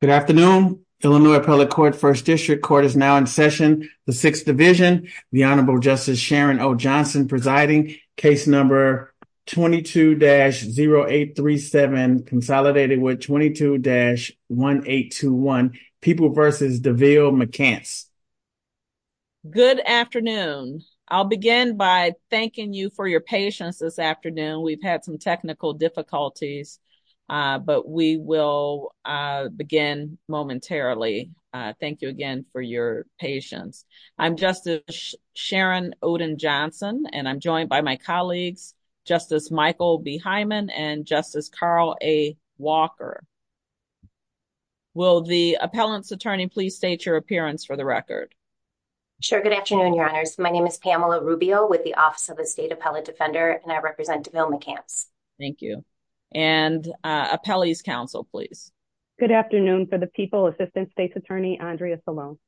Good afternoon, Illinois Appellate Court, 1st District Court is now in session, the 6th Division, the Honorable Justice Sharon O. Johnson presiding, case number 22-0837, consolidated with 22-1821, People v. DeVille McCants. Good afternoon. I'll begin by thanking you for your patience this afternoon. We've had some technical difficulties, but we will begin momentarily. Thank you again for your patience. I'm Justice Sharon Oden Johnson, and I'm joined by my colleagues, Justice Michael B. Hyman and Justice Carl A. Walker. Will the appellant's attorney please state your appearance for the record? Sure. Good afternoon, Your Honors. My name is Pamela Rubio with the Office of the State Appellate Defender, and I represent DeVille McCants. Thank you. And appellee's counsel, please. Good afternoon for the People Assistant State's Attorney, Andrea Salone.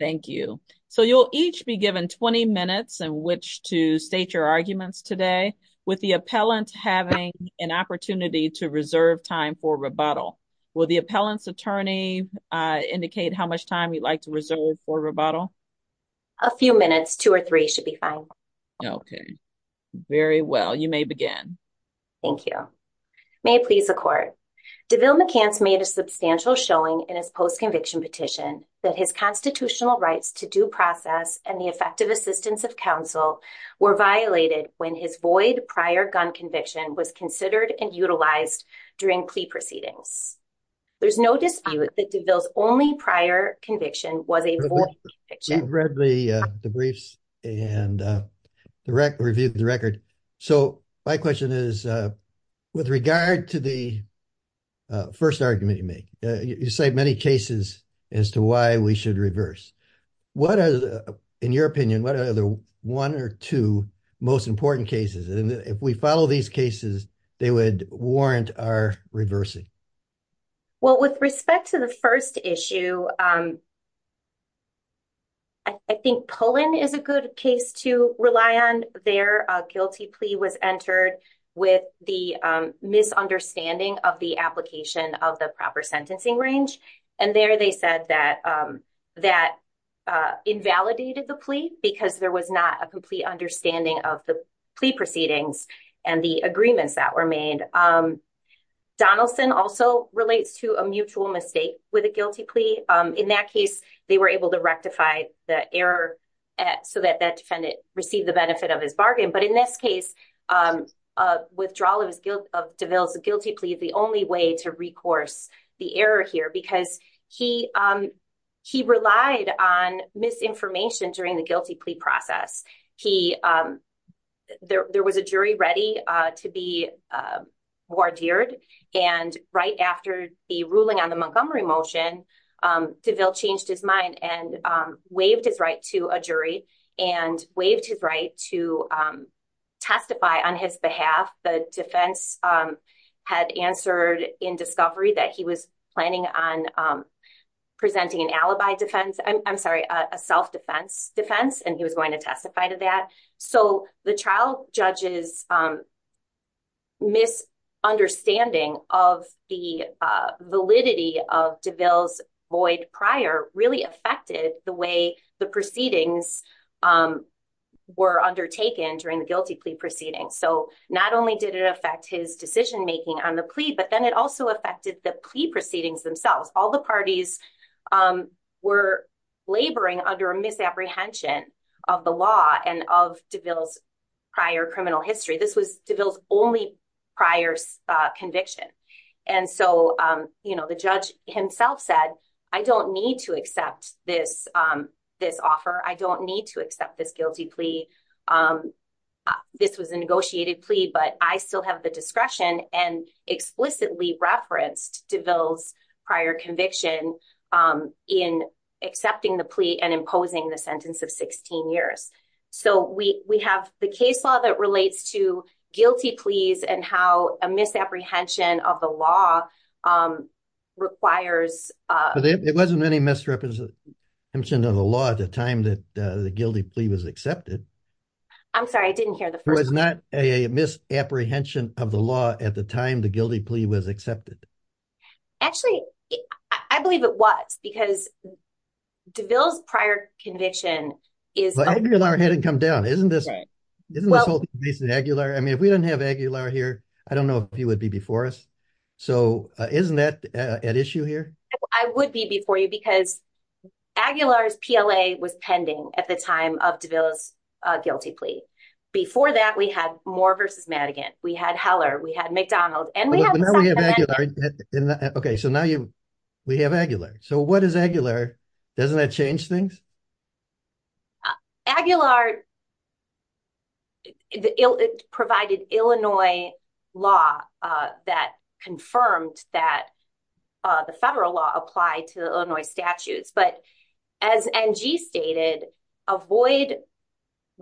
Thank you. So you'll each be given 20 minutes in which to state your arguments today, with the appellant having an opportunity to reserve time for rebuttal. Will the appellant's attorney indicate how much time you'd like to reserve for rebuttal? A few minutes, two or three should be fine. Okay. Very well, you may begin. Thank you. May it please the Court. DeVille McCants made a substantial showing in his post-conviction petition that his constitutional rights to due process and the effective assistance of counsel were violated when his void prior gun conviction was considered and utilized during plea proceedings. There's no dispute that DeVille's only prior conviction was a void conviction. I've read the briefs and reviewed the record. So my question is, with regard to the first argument you make, you cite many cases as to why we should reverse. What are, in your opinion, what are the one or two most important cases? And if we follow these cases, they would warrant our reversing. Well, with respect to the first issue, I think Pullen is a good case to rely on. Their guilty plea was entered with the misunderstanding of the application of the proper sentencing range. And there they said that that invalidated the plea because there was not a complete understanding of the plea proceedings and the agreements that were made. Donaldson also relates to a mutual mistake with a guilty plea. In that case, they were able to rectify the error so that that defendant received the benefit of his bargain. But in this case, withdrawal of DeVille's guilty plea is the only way to recourse the error here because he relied on misinformation during the guilty plea process. There was a jury ready to be wardered. And right after the ruling on the Montgomery motion, DeVille changed his mind and waived his right to a jury and waived his right to testify on his behalf. The defense had answered in discovery that he was planning on presenting an alibi defense, I'm sorry, a self-defense defense, and he was going to testify to that. So the trial judge's misunderstanding of the validity of DeVille's void prior really affected the way the proceedings were undertaken during the guilty plea proceedings. So not only did it affect his decision making on the plea, but then it also affected the plea proceedings themselves. All the parties were laboring under a misapprehension of the law and of DeVille's prior criminal history. This was DeVille's only prior conviction. And so, you know, the judge himself said, I don't need to accept this, this offer. I don't need to accept this guilty plea. This was a negotiated plea, but I still have the discretion and explicitly referenced DeVille's prior conviction in accepting the plea and imposing the sentence of 16 years. So we have the case law that relates to guilty pleas and how a misapprehension of the law requires. It wasn't any misrepresentation of the law at the time that the guilty plea was accepted. I'm sorry, I didn't hear the first one. It was not a misapprehension of the law at the time the guilty plea was accepted. Actually, I believe it was because DeVille's prior conviction is. Aguilar hadn't come down, isn't this, isn't this whole thing based on Aguilar? I mean, if we didn't have Aguilar here, I don't know if he would be before us. So isn't that at issue here? I would be before you because Aguilar's PLA was pending at the time of DeVille's guilty plea. Before that, we had Moore v. Madigan. We had Heller. We had McDonald. OK, so now we have Aguilar. So what is Aguilar? Doesn't that change things? Aguilar provided Illinois law that confirmed that the federal law applied to Illinois statutes. But as NG stated, a void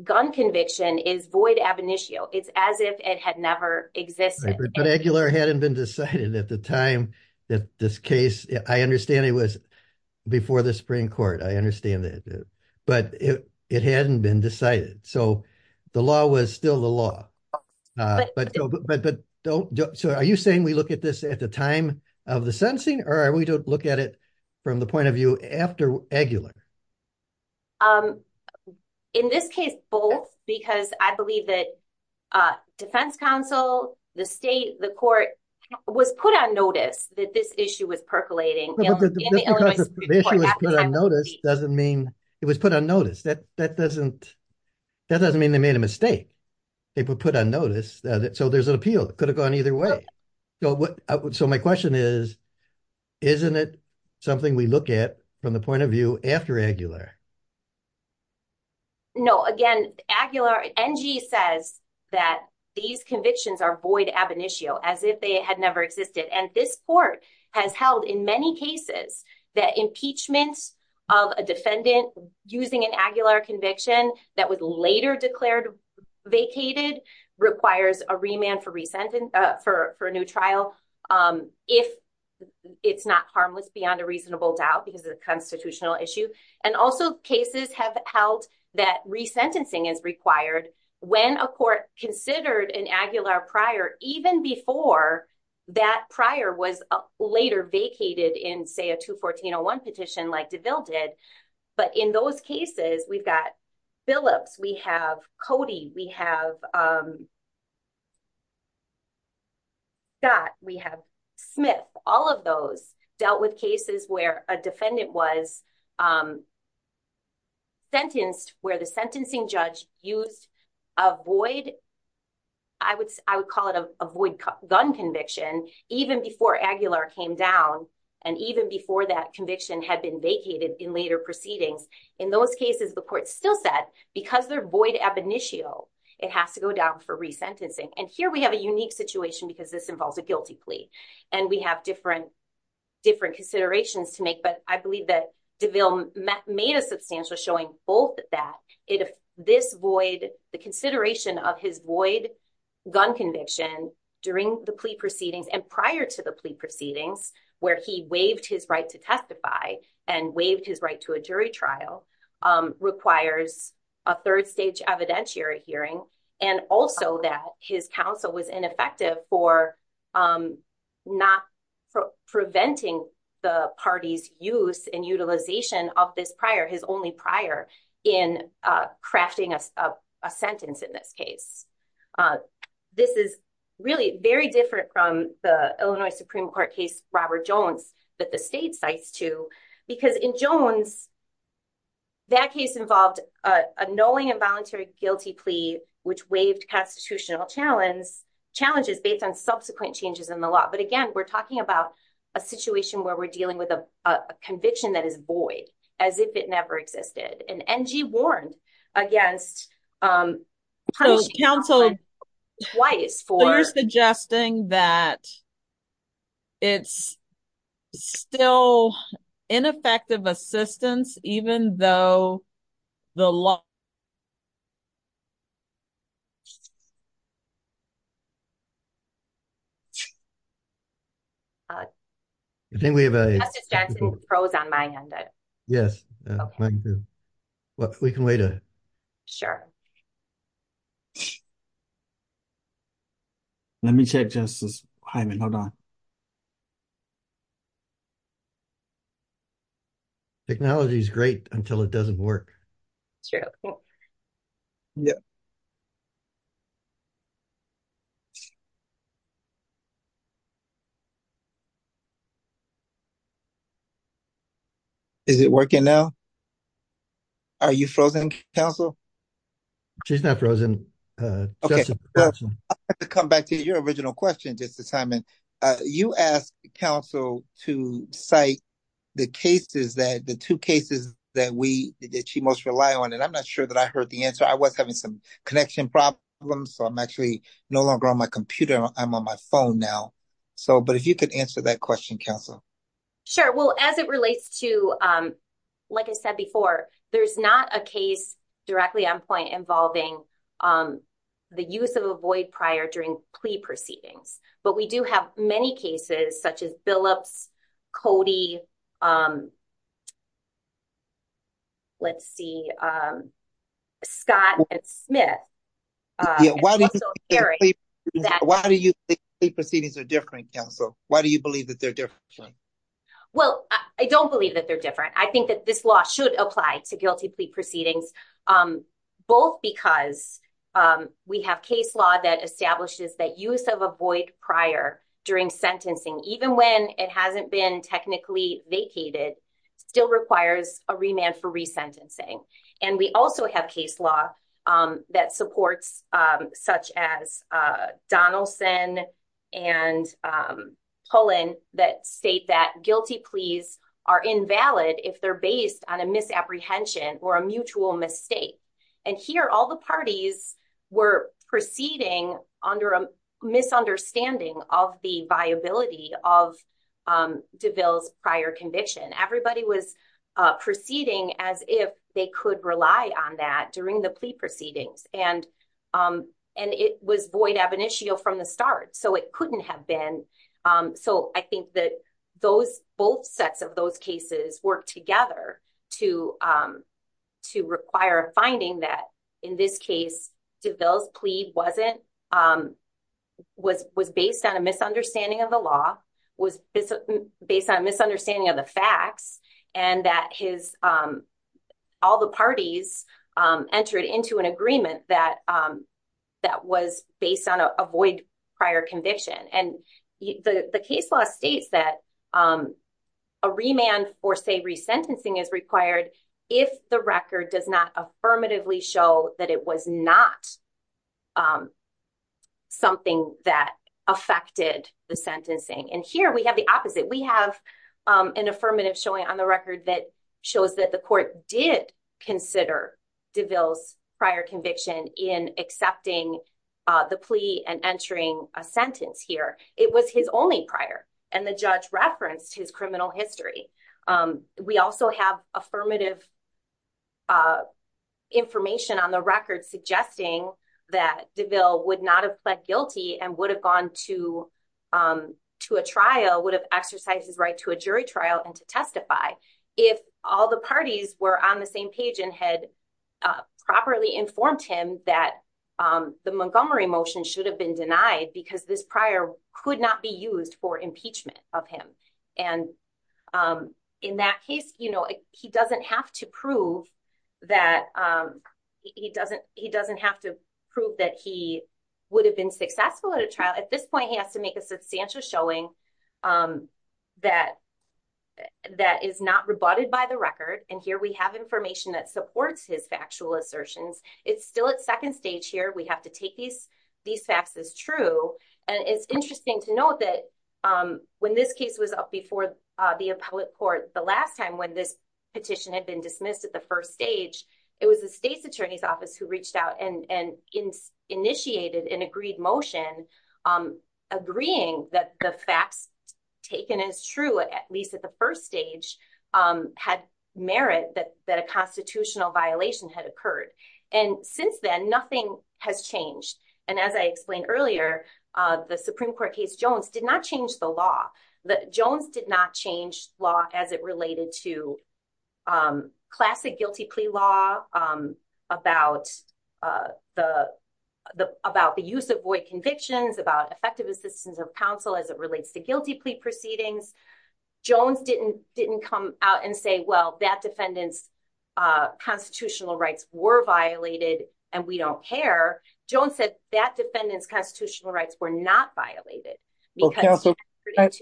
gun conviction is void ab initio. It's as if it had never existed. But Aguilar hadn't been decided at the time that this case, I understand it was before the Supreme Court. I understand that. But it hadn't been decided. So the law was still the law. So are you saying we look at this at the time of the sentencing? Or are we to look at it from the point of view after Aguilar? In this case, both. Because I believe that defense counsel, the state, the court was put on notice that this issue was percolating. Just because the issue was put on notice doesn't mean it was put on notice. That doesn't mean they made a mistake. It was put on notice. So there's an appeal. It could have gone either way. So my question is, isn't it something we look at from the point of view after Aguilar? No, again, NG says that these convictions are void ab initio, as if they had never existed. And this court has held in many cases that impeachment of a defendant using an Aguilar conviction that was later declared vacated requires a remand for a new trial. If it's not harmless beyond a reasonable doubt, because it's a constitutional issue. And also cases have held that resentencing is required when a court considered an Aguilar prior, even before that prior was later vacated in, say, a 214-01 petition like DeVille did. But in those cases, we've got Phillips, we have Cody, we have Scott, we have Smith. All of those dealt with cases where a defendant was sentenced, where the sentencing judge used a void, I would call it a void gun conviction, even before Aguilar came down. And even before that conviction had been vacated in later proceedings. In those cases, the court still said, because they're void ab initio, it has to go down for resentencing. And here we have a unique situation because this involves a guilty plea. And we have different considerations to make. But I believe that DeVille made a substantial showing both that the consideration of his void gun conviction during the plea proceedings and prior to the plea proceedings, where he waived his right to testify and waived his right to a jury trial, requires a third stage evidentiary hearing. And also that his counsel was ineffective for not preventing the party's use and utilization of this prior, his only prior, in crafting a sentence in this case. This is really very different from the Illinois Supreme Court case, Robert Jones, that the state cites too. Because in Jones, that case involved a knowing involuntary guilty plea, which waived constitutional challenges based on subsequent changes in the law. But again, we're talking about a situation where we're dealing with a conviction that is void, as if it never existed. And NG warned against punish counsel twice for suggesting that it's still ineffective assistance, even though the law. I think we have a prose on my end. Yes. What we can wait. Sure. Let me check justice. Hold on. Technology is great until it doesn't work. Yeah. Is it working now. Are you frozen council. She's not frozen. Okay. Come back to your original question just assignment. You ask counsel to cite the cases that the two cases that we did she most rely on and I'm not sure that I heard the answer. I was having some connection problem. So I'm actually no longer on my computer. I'm on my phone now. So, but if you could answer that question, counsel. Sure. Well, as it relates to, like I said before, there's not a case directly on point involving the use of avoid prior during plea proceedings. But we do have many cases such as billups. Cody. Let's see. Scott Smith. Why do you think the proceedings are different? So why do you believe that they're different? Well, I don't believe that they're different. I think that this law should apply to guilty plea proceedings, both because we have case law that establishes that use of avoid prior during sentencing, even when it hasn't been technically vacated, still requires a remand for resentencing. And we also have case law that supports such as Donaldson and Poland that state that guilty pleas are invalid if they're based on a misapprehension or a mutual mistake. And here, all the parties were proceeding under a misunderstanding of the viability of devils prior conviction. Everybody was proceeding as if they could rely on that during the plea proceedings. And it was void ab initio from the start. So it couldn't have been. So I think that those both sets of those cases work together to to require a finding that in this case devils plea wasn't was was based on a misunderstanding of the law was based on a misunderstanding of the facts and that his all the parties entered into an agreement that that was based on a void prior conviction. And the case law states that a remand or say resentencing is required if the record does not affirmatively show that it was not something that affected the sentencing. And here we have the opposite. We have an affirmative showing on the record that shows that the court did consider devils prior conviction in accepting the plea and entering a sentence here. It was his only prior and the judge referenced his criminal history. We also have affirmative information on the record suggesting that the bill would not have pled guilty and would have gone to to a trial would have exercised his right to a jury trial and to testify. If all the parties were on the same page and had properly informed him that the Montgomery motion should have been denied because this prior could not be used for impeachment of him. And in that case, you know, he doesn't have to prove that he doesn't he doesn't have to prove that he would have been successful at a trial at this point. He has to make a substantial showing that that is not rebutted by the record. And here we have information that supports his factual assertions. It's still at second stage here. We have to take these these facts as true. And it's interesting to know that when this case was up before the appellate court the last time when this petition had been dismissed at the first stage. It was the state's attorney's office who reached out and initiated an agreed motion agreeing that the facts taken as true at least at the first stage had merit that that a constitutional violation had occurred. And since then, nothing has changed. And as I explained earlier, the Supreme Court case Jones did not change the law that Jones did not change law as it related to classic guilty plea law about the about the use of void convictions about effective assistance of counsel as it relates to guilty plea proceedings. Jones didn't didn't come out and say, well, that defendants constitutional rights were violated and we don't care. Jones said that defendants constitutional rights were not violated.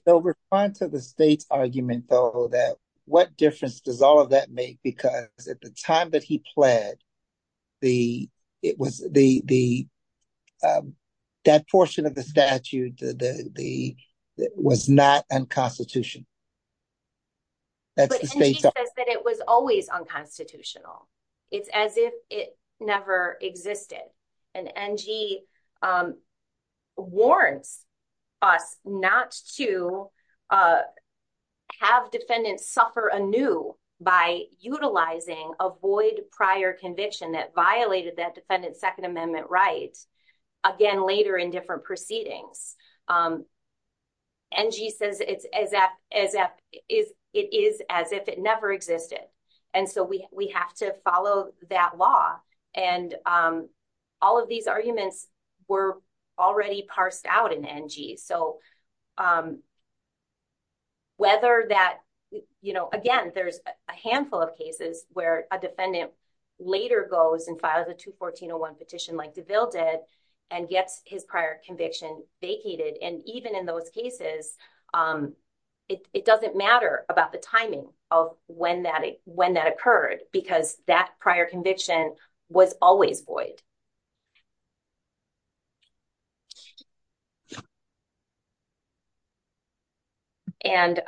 So we're fine to the state's argument, though, that what difference does all of that make? Because at the time that he pled the it was the that portion of the statute, the was not unconstitutional. That's the state says that it was always unconstitutional. It's as if it never existed. And Angie warns us not to have defendants suffer anew by utilizing avoid prior conviction that violated that defendant's Second Amendment rights again later in different proceedings. Angie says it's as if it is as if it never existed. And so we have to follow that law. And all of these arguments were already parsed out in Angie. So. Whether that, you know, again, there's a handful of cases where a defendant later goes and files a 214 petition like to build it and gets his prior conviction vacated. And even in those cases, it doesn't matter about the timing of when that when that occurred because that prior conviction was always void. And.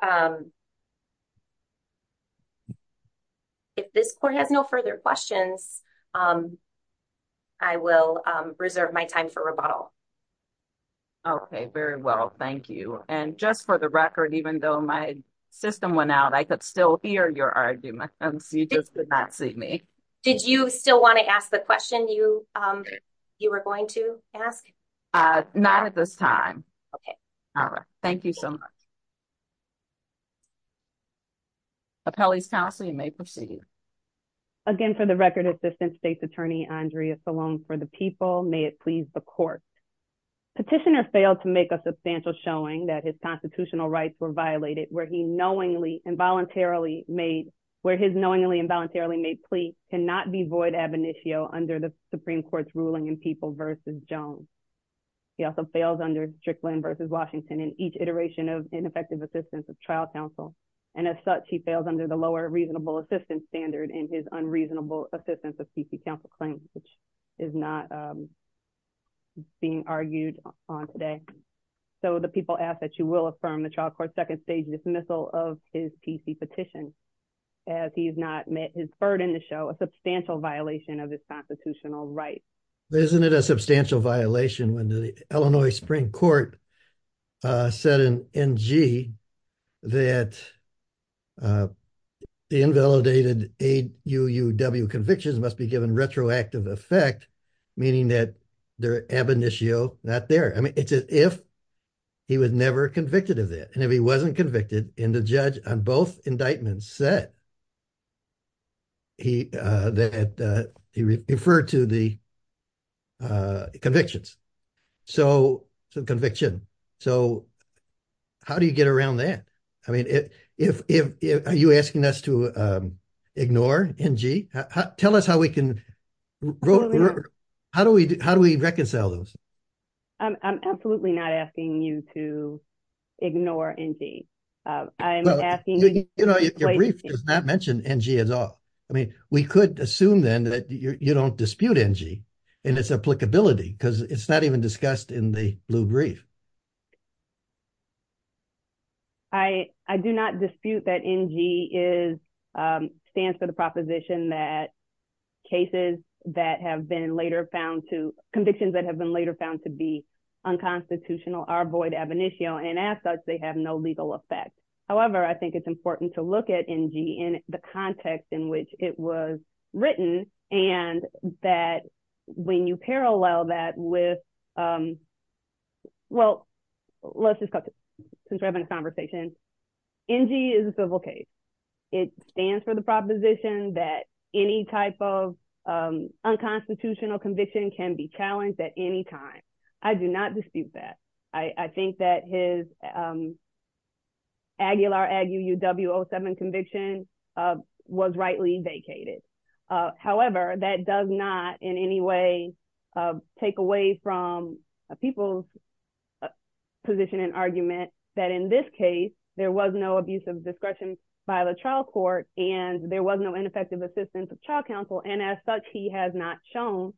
If this court has no further questions. I will reserve my time for rebuttal. Okay, very well, thank you. And just for the record, even though my system went out, I could still hear your argument. See me. Did you still want to ask the question you you were going to ask. Not at this time. Okay. All right. Thank you so much. Kelly's counseling may proceed. Again, for the record, Assistant State's Attorney Andrea Salone for the people may it please the court. Petitioner failed to make a substantial showing that his constitutional rights were violated where he knowingly involuntarily made where his knowingly involuntarily made plea cannot be void ab initio under the Supreme Court's ruling and people versus Jones. He also fails under Strickland versus Washington in each iteration of ineffective assistance of trial counsel. And as such, he fails under the lower reasonable assistance standard and his unreasonable assistance of PC counsel claim, which is not being argued on today. So the people ask that you will affirm the trial court second stage dismissal of his PC petition. As he's not met his burden to show a substantial violation of this constitutional right. Isn't it a substantial violation when the Illinois Supreme Court said in NG that the invalidated a UUW convictions must be given retroactive effect. Meaning that their ab initio not there. I mean, it's if he was never convicted of that. And if he wasn't convicted in the judge on both indictments said. He that he referred to the. Convictions so conviction, so. How do you get around that? I mean, if you asking us to ignore and tell us how we can. How do we how do we reconcile those? I'm absolutely not asking you to ignore. I'm asking, you know, if your brief does not mention NG at all. I mean, we could assume then that you don't dispute NG and it's applicability because it's not even discussed in the blue brief. I do not dispute that NG is stands for the proposition that cases that have been later found to convictions that have been later found to be unconstitutional are void ab initio and assets. They have no legal effect. However, I think it's important to look at NG in the context in which it was written and that when you parallel that with. Well, let's just since we're having a conversation. NG is a civil case. It stands for the proposition that any type of unconstitutional conviction can be challenged at any time. I do not dispute that. I think that his. W07 conviction was rightly vacated. However, that does not in any way take away from a people's position and argument that in this case, there was no abuse of discretion by the trial court and there was no ineffective assistance of trial counsel. And as such, he has not shown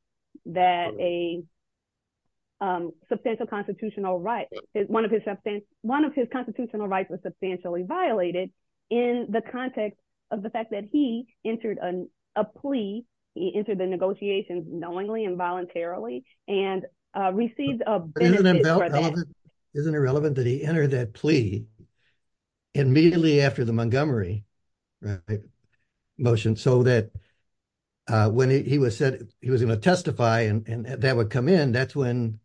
that a substantial constitutional right is one of his substance. One of his constitutional rights was substantially violated in the context of the fact that he entered a plea. He entered the negotiations knowingly and voluntarily and received a benefit for that. Isn't it relevant that he entered that plea immediately after the Montgomery motion so that when he was said he was going to testify and that would come in, that's when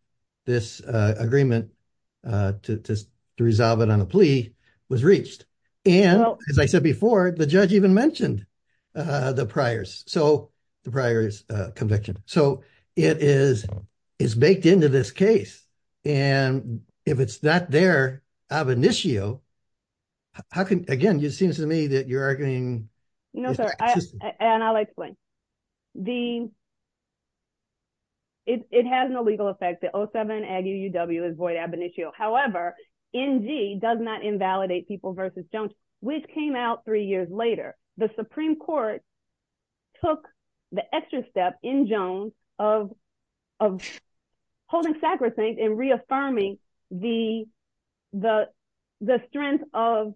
this agreement to resolve it on a plea was reached. And as I said before, the judge even mentioned the priors. So the priors conviction. So it is baked into this case. And if it's not there, ab initio, how can again, it seems to me that you're arguing. No, sir. And I'll explain the. It has no legal effect. The 07 is void ab initio. However, NG does not invalidate people versus Jones, which came out three years later. The Supreme Court took the extra step in Jones of, of holding sacrosanct and reaffirming the, the, the strength of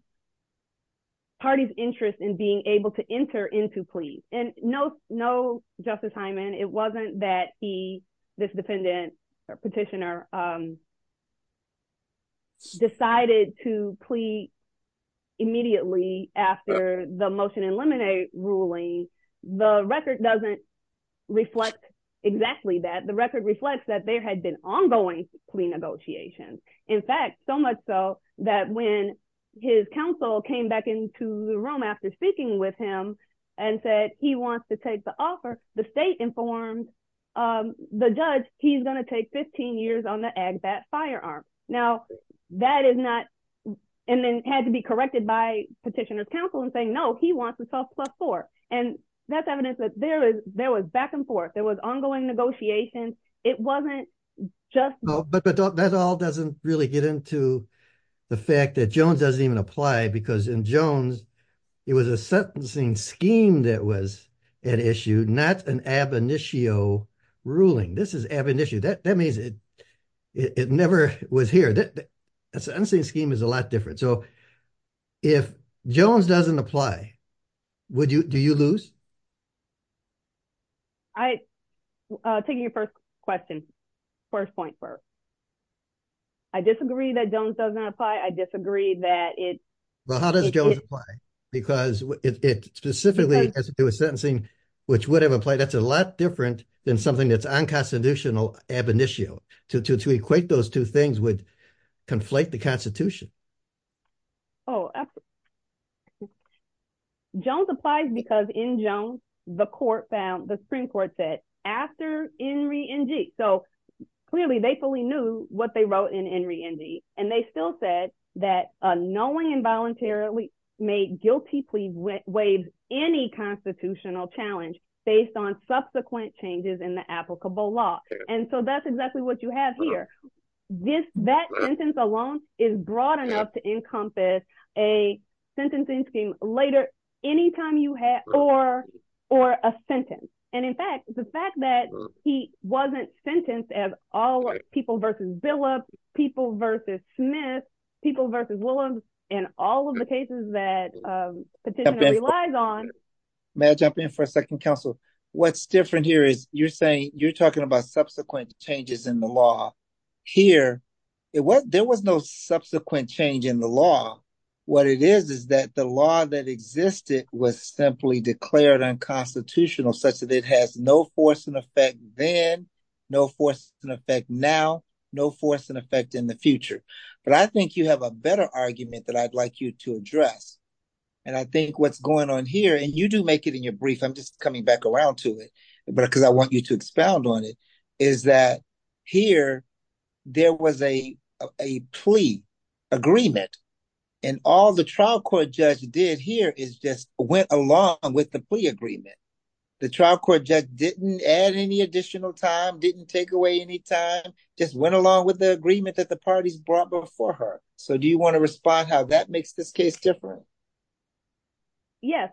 parties interest in being able to enter into plea and no, no, Justice Hyman. It wasn't that he, this defendant or petitioner decided to plea immediately after the motion eliminate ruling. The record doesn't reflect exactly that the record reflects that there had been ongoing plea negotiations. In fact, so much so that when his counsel came back into the room after speaking with him and said he wants to take the offer, the state informed the judge, he's going to take 15 years on the ag bat firearm. Now that is not, and then had to be corrected by petitioner's counsel and saying, no, he wants to sell plus four. And that's evidence that there is there was back and forth. There was ongoing negotiations. It wasn't just, but that all doesn't really get into the fact that Jones doesn't even apply because in Jones, it was a sentencing scheme. That was an issue, not an ab initio ruling. This is ab initio. That, that means it, it never was here. That's an insane scheme is a lot different. So if Jones doesn't apply, would you, do you lose? I taking your 1st question. 1st point for, I disagree that Jones doesn't apply. I disagree that it. Well, how does Jones apply because it specifically as it was sentencing, which would have applied that's a lot different than something that's unconstitutional ab initio to, to, to equate those 2 things would conflate the constitution. Oh, Jones applies because in Jones, the court found the Supreme Court said after Henry and G. So, clearly, they fully knew what they wrote in Henry Indy, and they still said that knowing involuntarily made guilty plea waves, any constitutional challenge based on subsequent changes in the applicable law. And so that's exactly what you have here. This that sentence alone is broad enough to encompass a sentencing scheme later, anytime you have, or, or a sentence. And in fact, the fact that he wasn't sentenced as all people versus bill up people versus Smith people versus Williams, and all of the cases that relies on May I jump in for a second council. What's different here is you're saying you're talking about subsequent changes in the law here. It was there was no subsequent change in the law. What it is, is that the law that existed was simply declared unconstitutional such that it has no force and effect, then no force and effect now no force and effect in the future. But I think you have a better argument that I'd like you to address. And I think what's going on here and you do make it in your brief. I'm just coming back around to it. But because I want you to expound on it, is that here, there was a, a plea agreement, and all the trial court judge did here is just went along with the plea agreement. The trial court judge didn't add any additional time didn't take away any time, just went along with the agreement that the parties brought before her. So do you want to respond how that makes this case different. Yes.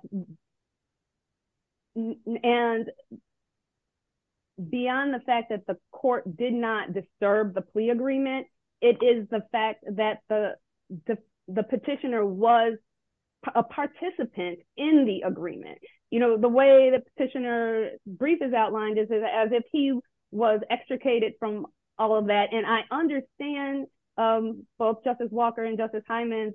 And beyond the fact that the court did not disturb the plea agreement. It is the fact that the petitioner was a participant in the agreement, you know, the way the petitioner brief is outlined is as if he was extricated from all of that and I understand. Thank you, both Justice Walker and Justice Hyman.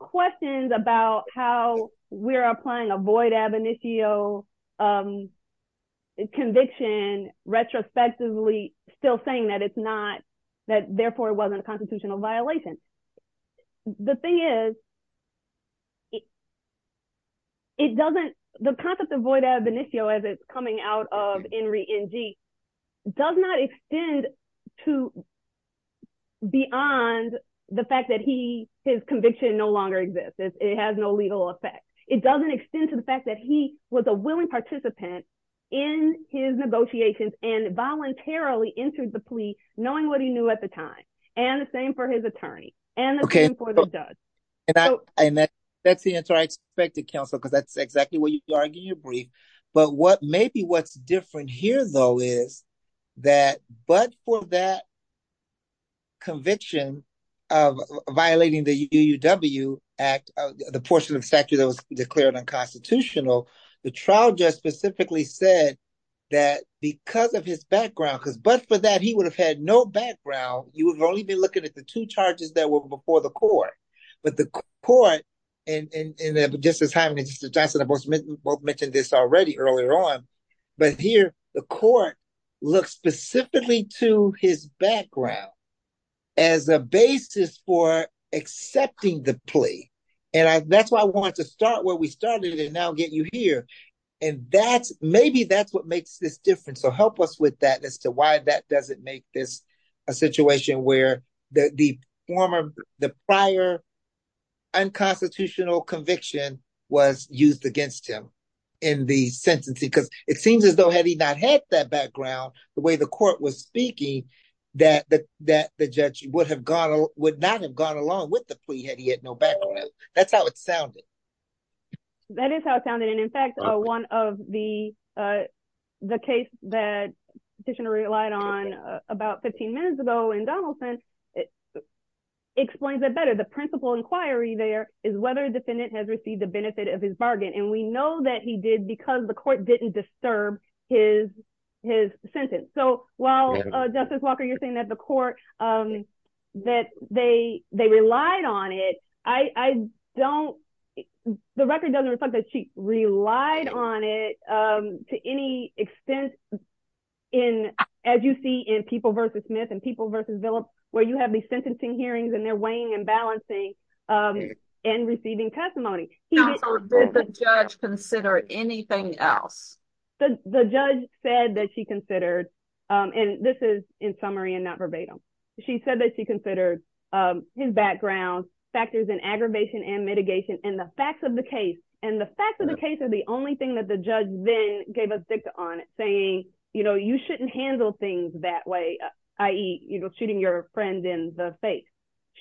Questions about how we're applying a void ab initio conviction retrospectively still saying that it's not that therefore wasn't a constitutional violation. The thing is, it doesn't, the concept of void ab initio as it's coming out of Henry NG does not extend to beyond the fact that he is conviction no longer exists, it has no legal effect, it doesn't extend to the fact that he was a willing participant in his negotiations and voluntarily entered the plea, knowing what he knew at the time, and the same for his attorney, and the same for the judge. And that's the entire expected counsel because that's exactly what you argue your brief. But what maybe what's different here though is that but for that conviction of violating the UW act, the portion of statute that was declared unconstitutional. The trial just specifically said that because of his background because but for that he would have had no background, you would only be looking at the two charges that were before the court, but the court, and Justice Hyman and Justice Johnson both mentioned this already earlier on, but here, the court looks specifically to his background as a basis for accepting the plea. And that's why I wanted to start where we started and now get you here. And that's maybe that's what makes this different so help us with that as to why that doesn't make this a situation where the former, the prior unconstitutional conviction was used against him in the sentencing because it seems as though had he not had that background, the way the court was speaking, that the judge would have gone, would not have gone along with the plea had he had no background. That's how it sounded. That is how it sounded. And in fact, one of the, the case that petitioner relied on about 15 minutes ago and Donaldson explains it better the principal inquiry there is whether defendant has received the benefit of his bargain and we know that he did because the court didn't disturb his, his sentence. So, while Justice Walker you're saying that the court that they, they relied on it. I don't. The record doesn't reflect that she relied on it to any extent. In, as you see in people versus Smith and people versus Philip, where you have the sentencing hearings and they're weighing and balancing and receiving testimony. Consider anything else. The judge said that she considered. And this is in summary and not verbatim. She said that she considered his background factors and aggravation and mitigation and the facts of the case, and the facts of the case is the only thing that the judge then gave us on it saying, you know, you shouldn't handle things that way. I eat, you know, shooting your friend in the face.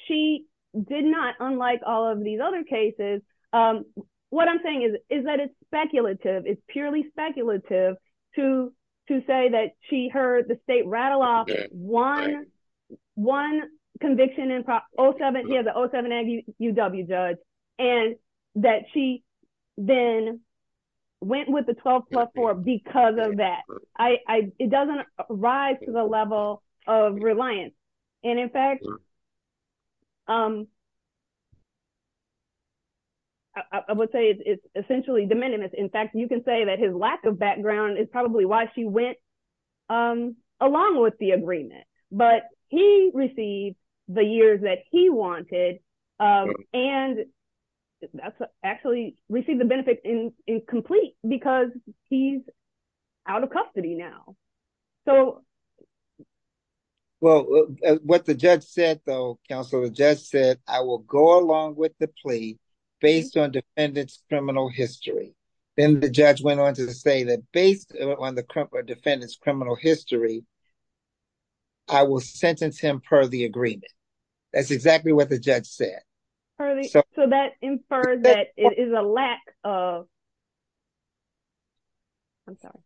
She did not unlike all of these other cases. What I'm saying is, is that it's speculative it's purely speculative to to say that she heard the state rattle off one, one conviction and probably seven years ago seven and UW judge, and that she then went with the 12 plus four because of that, I, it doesn't rise to the level of reliance. And in fact, I would say it's essentially de minimis in fact you can say that his lack of background is probably why she went along with the agreement, but he received the years that he wanted. And that's actually received the benefit in in complete, because he's out of custody now. So, well, what the judge said though counselor just said, I will go along with the plea based on defendants criminal history. Then the judge went on to say that based on the current defendants criminal history. I will sentence him per the agreement. That's exactly what the judge said. So that infers that it is a lack of. I'm sorry.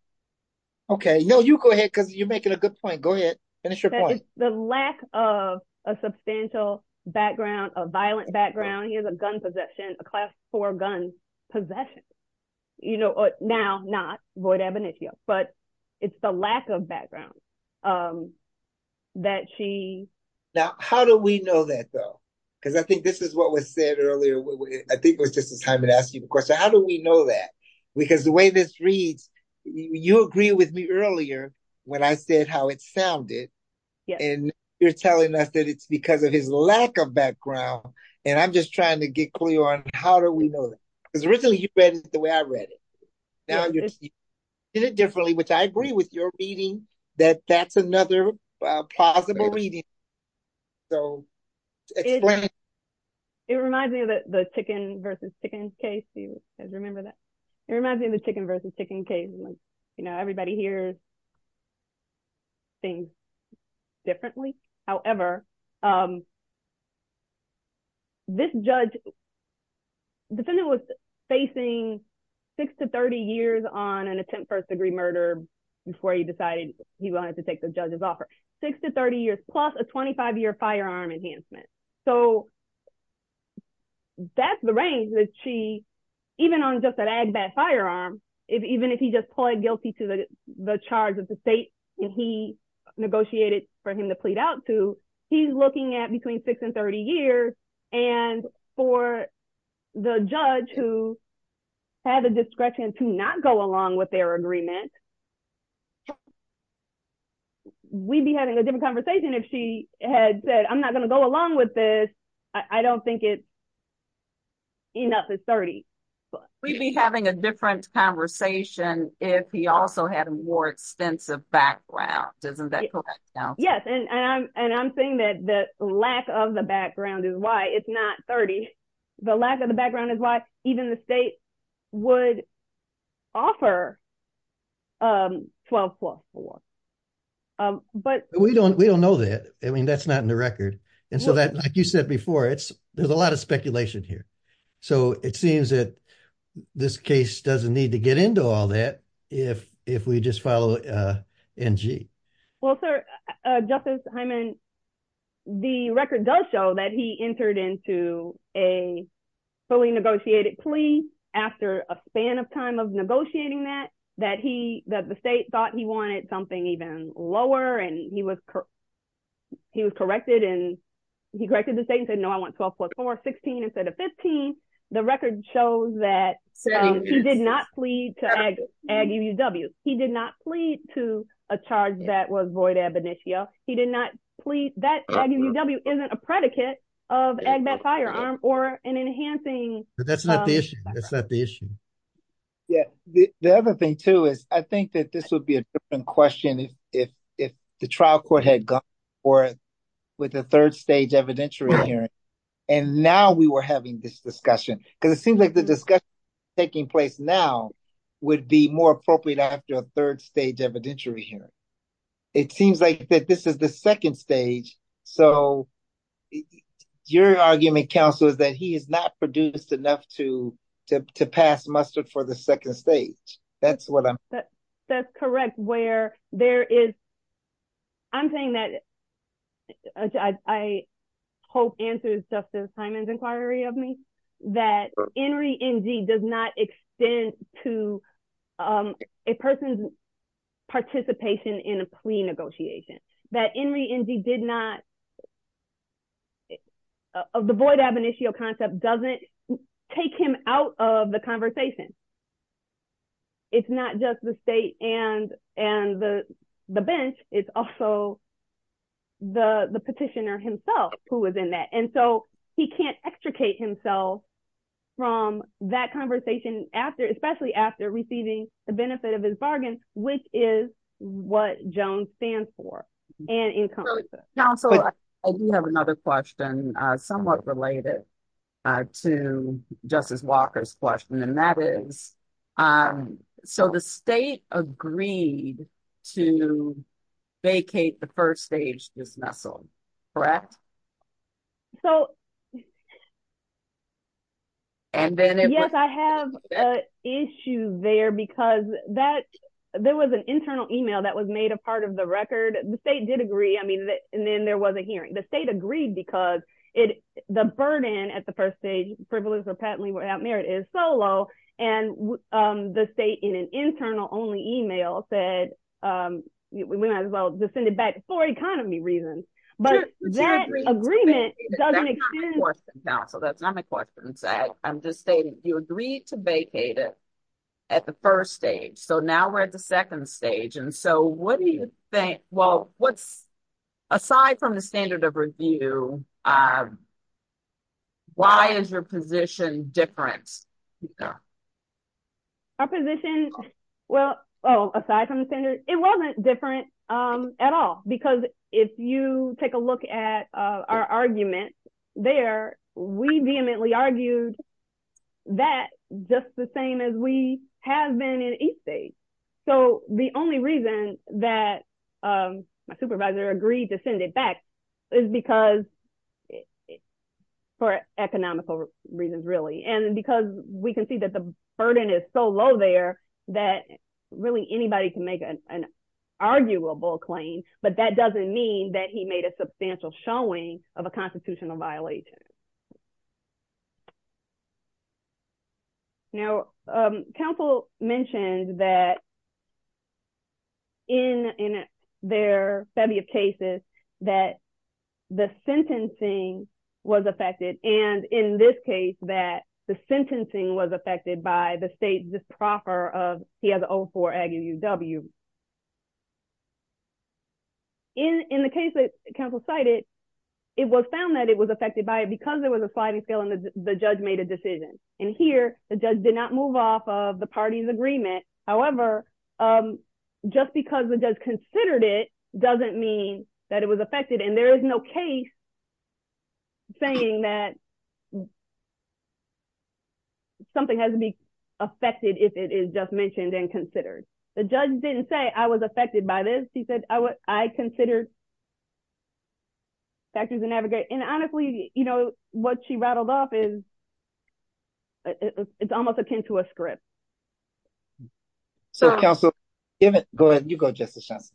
Okay, no, you go ahead because you make it a good point. Go ahead. Finish your point, the lack of a substantial background of violent background, he has a gun possession, a class for gun possession. You know, now, not void evidence, but it's the lack of background that she. Now, how do we know that though, because I think this is what was said earlier, I think it was just a time to ask you, of course, how do we know that, because the way this reads. You agree with me earlier when I said how it sounded. And you're telling us that it's because of his lack of background, and I'm just trying to get clear on how do we know that, because originally you read it the way I read it. It differently, which I agree with your meeting that that's another possible reading. So, it reminds me of the chicken versus chicken case you guys remember that reminds me of the chicken versus chicken case. You know, everybody hears things differently. However, this judge defendant was facing six to 30 years on an attempt first degree murder before he decided he wanted to take the judge's offer six to 30 years plus a 25 year firearm enhancement. So, that's the range that she, even on just an Agbat firearm, even if he just plead guilty to the charge of the state, and he negotiated for him to plead out to, he's looking at between six and 30 years. And for the judge who had the discretion to not go along with their agreement, we'd be having a different conversation if she had said I'm not going to go along with this. I don't think it's enough. It's 30. We'd be having a different conversation if he also had a more extensive background. Isn't that correct? Yes, and I'm saying that the lack of the background is why it's not 30. The lack of the background is why even the state would offer 12 plus four. But we don't we don't know that. I mean that's not in the record. And so that like you said before it's, there's a lot of speculation here. So it seems that this case doesn't need to get into all that. If, if we just follow. Well, sir, Justice Hyman, the record does show that he entered into a fully negotiated plea after a span of time of negotiating that, that he, that the state thought he wanted something even lower and he was, he was corrected and he corrected the state and said no I want 12 plus four, 16 instead of 15. The record shows that he did not plead to AGUW. He did not plead to a charge that was void ab initio. He did not plead that AGUW isn't a predicate of AGBAT firearm or an enhancing. That's not the issue. That's not the issue. Yeah, the other thing too is, I think that this would be a different question if, if, if the trial court had gone for it with a third stage evidentiary hearing. And now we were having this discussion, because it seems like the discussion taking place now would be more appropriate after a third stage evidentiary hearing. It seems like that this is the second stage. So, your argument counsel is that he is not produced enough to to pass mustard for the second stage. That's what I'm. I think that that's correct where there is. I'm saying that I hope answers Justice Hyman's inquiry of me that NRE NG does not extend to a person's participation in a plea negotiation that NRE NG did not avoid ab initio concept doesn't take him out of the conversation. It's not just the state and and the bench. It's also the the petitioner himself, who was in that and so he can't extricate himself from that conversation after especially after receiving the benefit of his bargain, which is what Jones stands for. I do have another question, somewhat related to Justice Walker's question and that is. So the state agreed to vacate the first stage dismissal. Correct. So, And then, yes, I have an issue there because that there was an internal email that was made a part of the record. The state did agree. I mean, and then there was a hearing the state agreed because it the burden at the first stage privilege or patently without merit is solo and the state in an internal only email said, we might as well send it back for economy reasons. But that agreement. So that's not my question. I'm just saying you agreed to vacate it at the first stage. So now we're at the second stage. And so what do you think, well, what's aside from the standard of review. Why is your position difference. Our position. Well, aside from the standard, it wasn't different at all. Because if you take a look at our argument there, we vehemently argued that just the same as we have been in each day. So the only reason that my supervisor agreed to send it back is because it for economical reasons, really. And because we can see that the burden is so low there that really anybody can make an arguable claim. But that doesn't mean that he made a substantial showing of a constitutional violation. Now, Council mentioned that in their study of cases that the sentencing was affected. And in this case, that the sentencing was affected by the state disproper of he has all for aggie UW. In the case that Council cited, it was found that it was affected by it because there was a sliding scale and the judge made a decision. And here, the judge did not move off of the party's agreement. However, just because we just considered it doesn't mean that it was affected and there is no case saying that something has to be affected if it is just mentioned and considered. The judge didn't say, I was affected by this. He said, I considered factors and navigate. And honestly, you know, what she rattled off is, it's almost akin to a script. So, Council, go ahead and you go just a chance.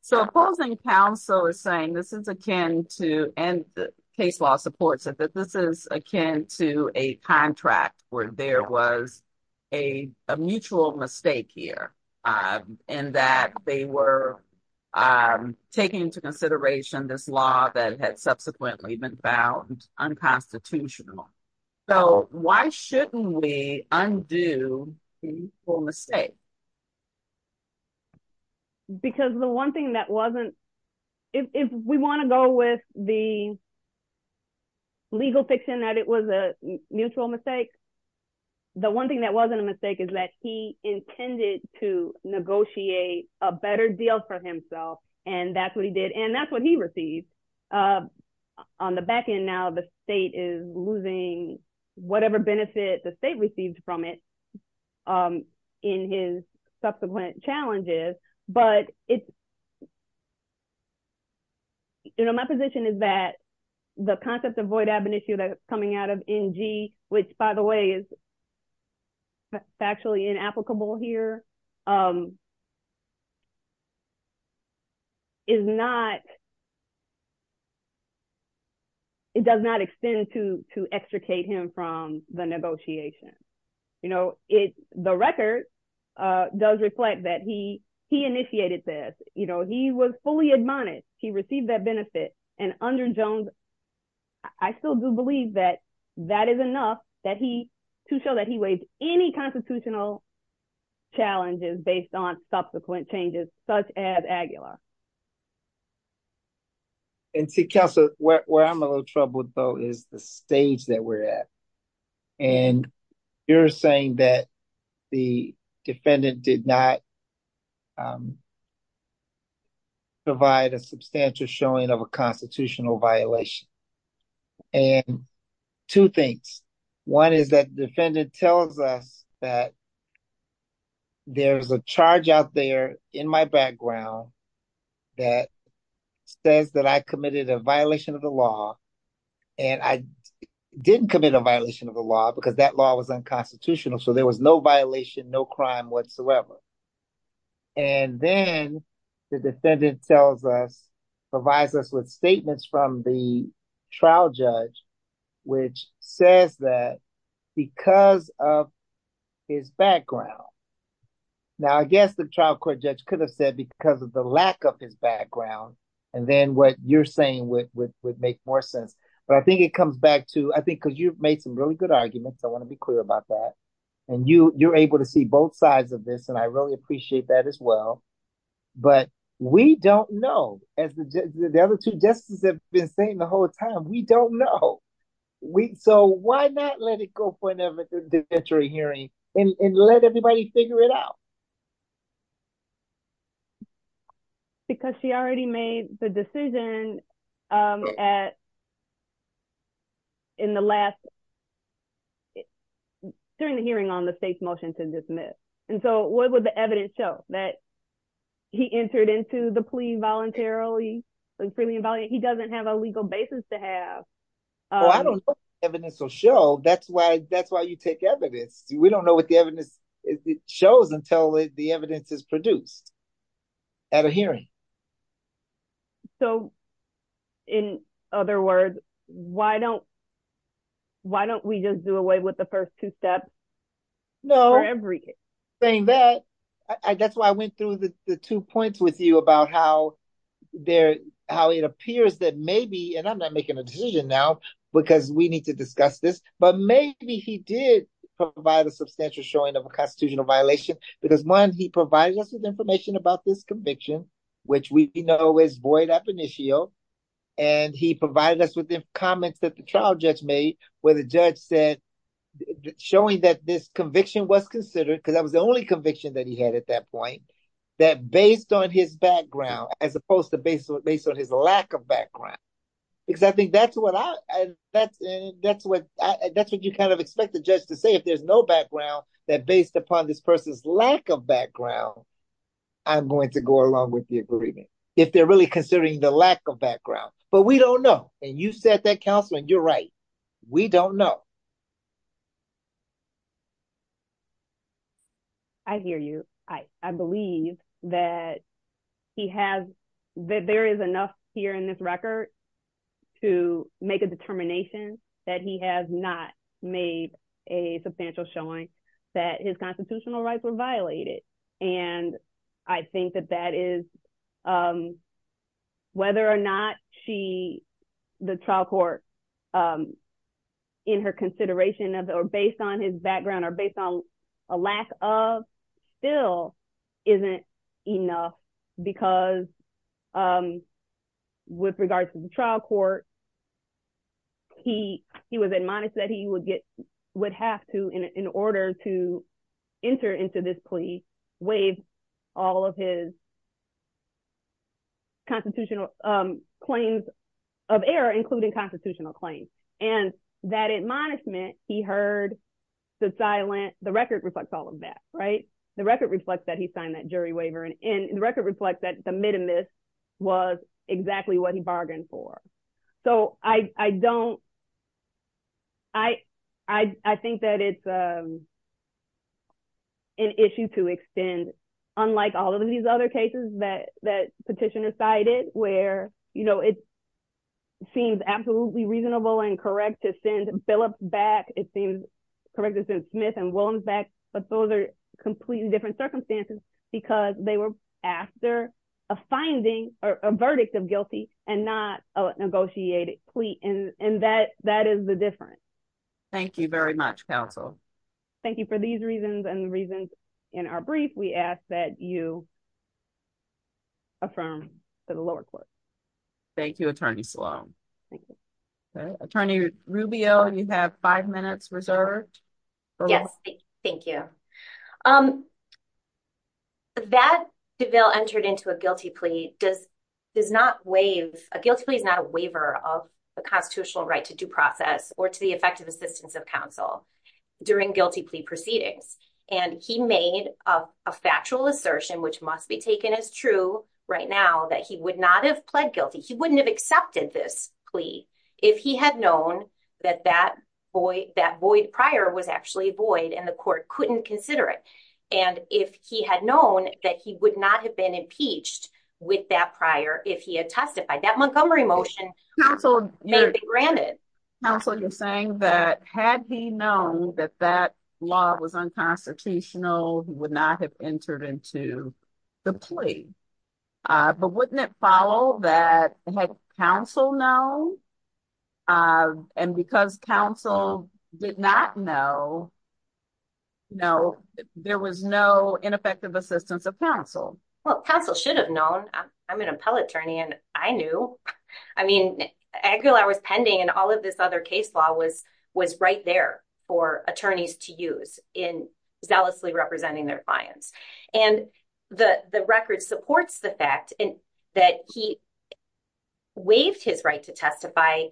So, opposing council is saying this is a can to end the case law supports that this is akin to a contract where there was. A mutual mistake here, and that they were. Taking into consideration this law that had subsequently been found unconstitutional. So, why shouldn't we undo mistake. Because the 1 thing that wasn't. If we want to go with the legal fiction that it was a mutual mistake. The 1 thing that wasn't a mistake is that he intended to negotiate a better deal for himself. And that's what he did. And that's what he received on the back end. Now, the state is losing whatever benefit the state received from it. In his subsequent challenges, but it's. You know, my position is that the concept of void ab initio that coming out of NG, which, by the way, is. Factually inapplicable here. Is not. It does not extend to to extricate him from the negotiation. You know, it's the record does reflect that he, he initiated this, you know, he was fully admonished. He received that benefit and under Jones. I still do believe that that is enough that he to show that he weighs any constitutional. Challenges based on subsequent changes, such as. And see, where I'm a little troubled, though, is the stage that we're at. And you're saying that the defendant did not. Provide a substantial showing of a constitutional violation. And two things. One is that defendant tells us that. There's a charge out there in my background that says that I committed a violation of the law. And I didn't commit a violation of the law because that law was unconstitutional. So there was no violation, no crime whatsoever. And then the defendant tells us provides us with statements from the trial judge, which says that because of his background. Now, I guess the trial court judge could have said because of the lack of his background and then what you're saying would make more sense. But I think it comes back to I think because you've made some really good arguments. I want to be clear about that. And you you're able to see both sides of this, and I really appreciate that as well. But we don't know as the other two justices have been saying the whole time. We don't know. So why not let it go for an inventory hearing and let everybody figure it out? Because she already made the decision at. In the last. During the hearing on the state's motion to dismiss, and so what would the evidence show that he entered into the plea voluntarily and freely and he doesn't have a legal basis to have. Evidence will show. That's why. That's why you take evidence. We don't know what the evidence shows until the evidence is produced. At a hearing. So. In other words, why don't. Why don't we just do away with the first two steps? No. Saying that I guess why I went through the two points with you about how they're how it appears that maybe and I'm not making a decision now because we need to discuss this, but maybe he did provide a substantial showing of a constitutional violation. Because one, he provided us with information about this conviction, which we know is void of initial and he provided us with the comments that the trial judge made where the judge said. Showing that this conviction was considered because I was the only conviction that he had at that point that based on his background as opposed to based based on his lack of background. Because I think that's what I that's that's what that's what you kind of expect the judge to say if there's no background that based upon this person's lack of background. I'm going to go along with the agreement if they're really considering the lack of background, but we don't know. And you said that counseling. You're right. We don't know. I hear you. I believe that he has that there is enough here in this record to make a determination that he has not made a substantial showing that his constitutional rights were violated. And I think that that is whether or not she the trial court in her consideration of the or based on his background or based on a lack of still isn't enough because with regards to the trial court. He he was admonished that he would get would have to in order to enter into this plea waive all of his constitutional claims of error, including constitutional claims and that admonishment. He heard the silent the record reflects all of that right the record reflects that he signed that jury waiver and in the record reflects that the mid and this was exactly what he bargained for. So, I don't I, I think that it's an issue to extend, unlike all of these other cases that that petitioner cited, where, you know, it seems absolutely reasonable and correct to send Phillips back, it seems correct to send Smith and Williams back, but those are completely different circumstances, because they were after a finding or a verdict of guilty and not a negotiation. And that that is the different. Thank you very much, counsel. Thank you for these reasons and the reasons in our brief we ask that you affirm the lower court. Thank you, Attorney Sloan. Thank you, Attorney Rubio and you have five minutes reserved. Yes, thank you. Um, that DeVille entered into a guilty plea does does not waive a guilty plea is not a waiver of the constitutional right to due process or to the effective assistance of counsel during guilty plea proceedings. And he made a factual assertion which must be taken as true right now that he would not have pled guilty he wouldn't have accepted this plea. If he had known that that boy, that boy prior was actually void and the court couldn't consider it. And if he had known that he would not have been impeached with that prior if he had testified that Montgomery motion. So, granted. So you're saying that had he known that that law was unconstitutional would not have entered into the plea. But wouldn't it follow that counsel know. And because counsel did not know. No, there was no ineffective assistance of counsel. Well, counsel should have known I'm an appellate attorney and I knew. I mean, Aguilar was pending and all of this other case law was was right there for attorneys to use in zealously representing their clients and the record supports the fact that he waived his right to testify.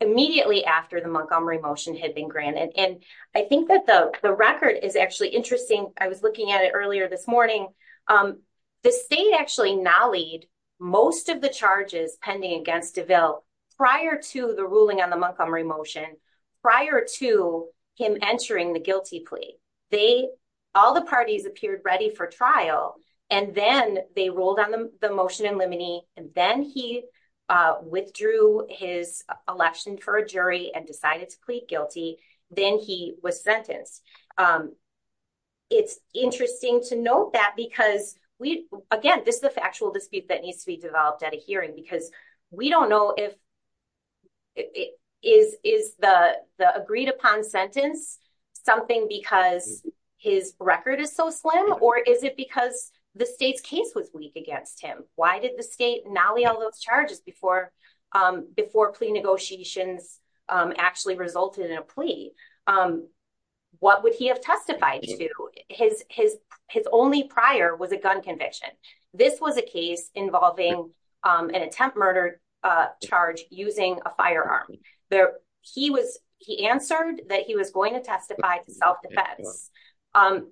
Immediately after the Montgomery motion had been granted, and I think that the record is actually interesting. I was looking at it earlier this morning. The state actually now lead most of the charges pending against develop prior to the ruling on the Montgomery motion prior to him entering the guilty plea. They all the parties appeared ready for trial and then they rolled on the motion and limiting and then he withdrew his election for a jury and decided to plead guilty. Then he was sentenced. It's interesting to note that because we again, this is the factual dispute that needs to be developed at a hearing because we don't know if. Is is the agreed upon sentence something because his record is so slim or is it because the state's case was weak against him? Why did the state nolly all those charges before before plea negotiations actually resulted in a plea? What would he have testified to his his his only prior was a gun conviction. This was a case involving an attempt murder charge using a firearm there. He was he answered that he was going to testify to self-defense.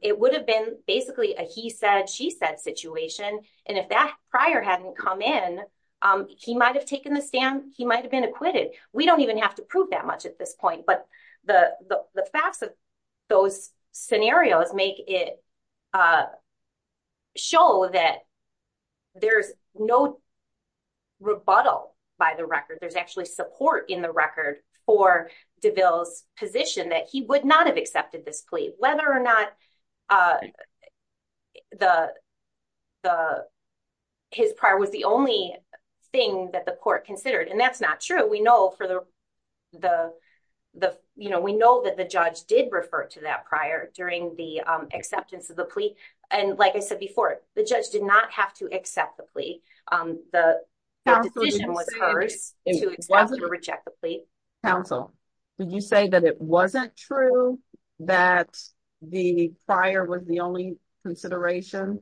It would have been basically a he said she said situation and if that prior hadn't come in he might have taken the stand. He might have been acquitted. We don't even have to prove that much at this point. But the the facts of those scenarios make it show that there's no rebuttal by the record. There's actually support in the record for DeVille's position that he would not have accepted this plea whether or not. The the his prior was the only thing that the court considered and that's not true. So we know for the the the you know, we know that the judge did refer to that prior during the acceptance of the plea. And like I said before, the judge did not have to accept the plea. The decision was hers to reject the plea. Counsel, would you say that it wasn't true that the prior was the only consideration?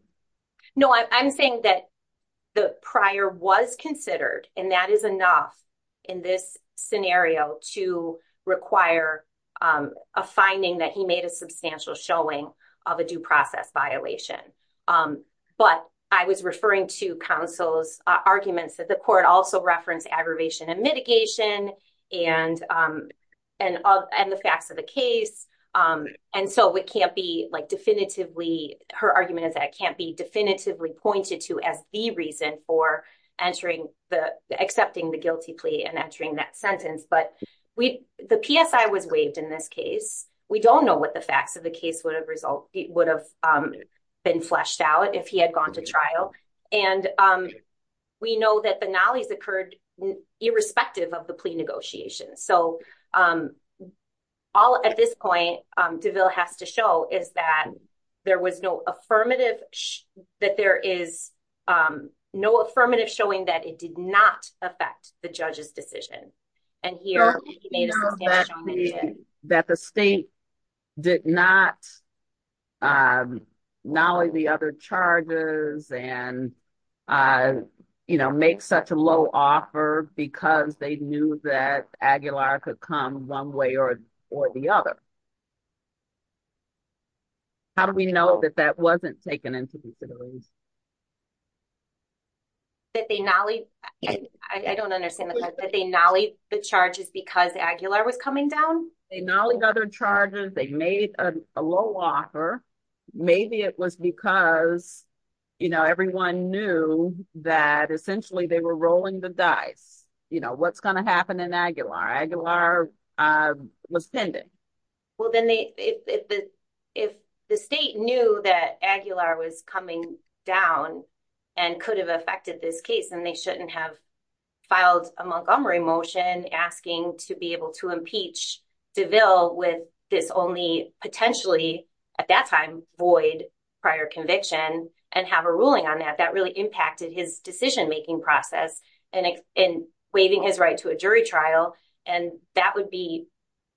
No, I'm saying that the prior was considered and that is enough in this scenario to require a finding that he made a substantial showing of a due process violation. But I was referring to counsel's arguments that the court also referenced aggravation and mitigation and and and the facts of the case. And so it can't be like definitively her argument is that can't be definitively pointed to as the reason for entering the accepting the guilty plea and entering that sentence. But we the PSI was waived in this case. We don't know what the facts of the case would have result would have been fleshed out if he had gone to trial. And we know that the knowledge occurred irrespective of the plea negotiations. So all at this point, DeVille has to show is that there was no affirmative that there is no affirmative showing that it did not affect the judge's decision. And here that the state did not know the other charges and, you know, make such a low offer because they knew that Aguilar could come 1 way or or the other. How do we know that that wasn't taken into the. That they not only I don't understand that they not only the charges because Aguilar was coming down, they not only other charges, they made a low offer. Maybe it was because, you know, everyone knew that essentially they were rolling the dice. You know, what's going to happen in Aguilar Aguilar was pending. Well, then if the if the state knew that Aguilar was coming down and could have affected this case, then they shouldn't have filed a Montgomery motion asking to be able to impeach DeVille with this only potentially at that time void prior conviction and have a ruling on that. That really impacted his decision making process and in waiving his right to a jury trial. And that would be,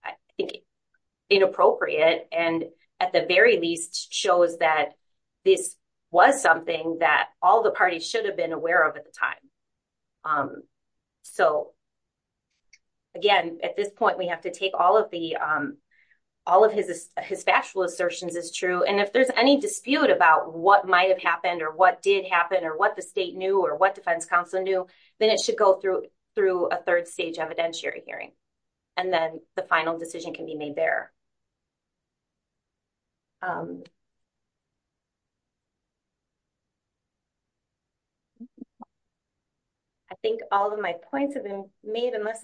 I think, inappropriate and at the very least shows that this was something that all the parties should have been aware of at the time. So. Again, at this point, we have to take all of the all of his his factual assertions is true. And if there's any dispute about what might have happened or what did happen or what the state knew or what defense counsel knew, then it should go through through a third stage evidentiary hearing. And then the final decision can be made there. I think all of my points have been made, unless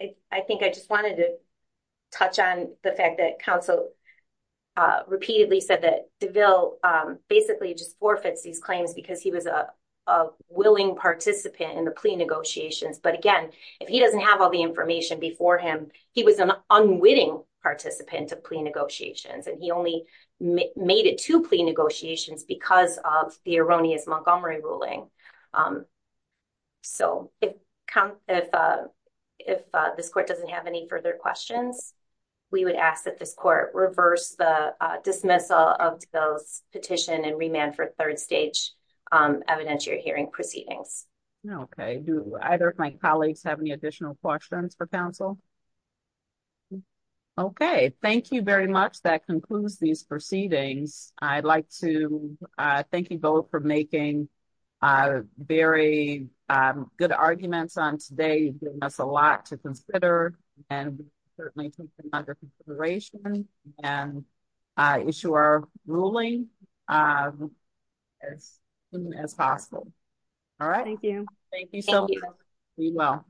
I think I just wanted to touch on the fact that counsel repeatedly said that DeVille basically just forfeits these claims because he was a willing participant in the plea negotiations. But again, if he doesn't have all the information before him, he was an unwitting participant of plea negotiations, and he only made it to plea negotiations because of the erroneous Montgomery ruling. So, if this court doesn't have any further questions, we would ask that this court reverse the dismissal of those petition and remand for third stage evidentiary hearing proceedings. Okay. Do either of my colleagues have any additional questions for counsel? Okay, thank you very much. That concludes these proceedings. I'd like to thank you both for making very good arguments on today. That's a lot to consider, and certainly under consideration and issue our ruling as soon as possible. All right. Thank you. Thank you so much.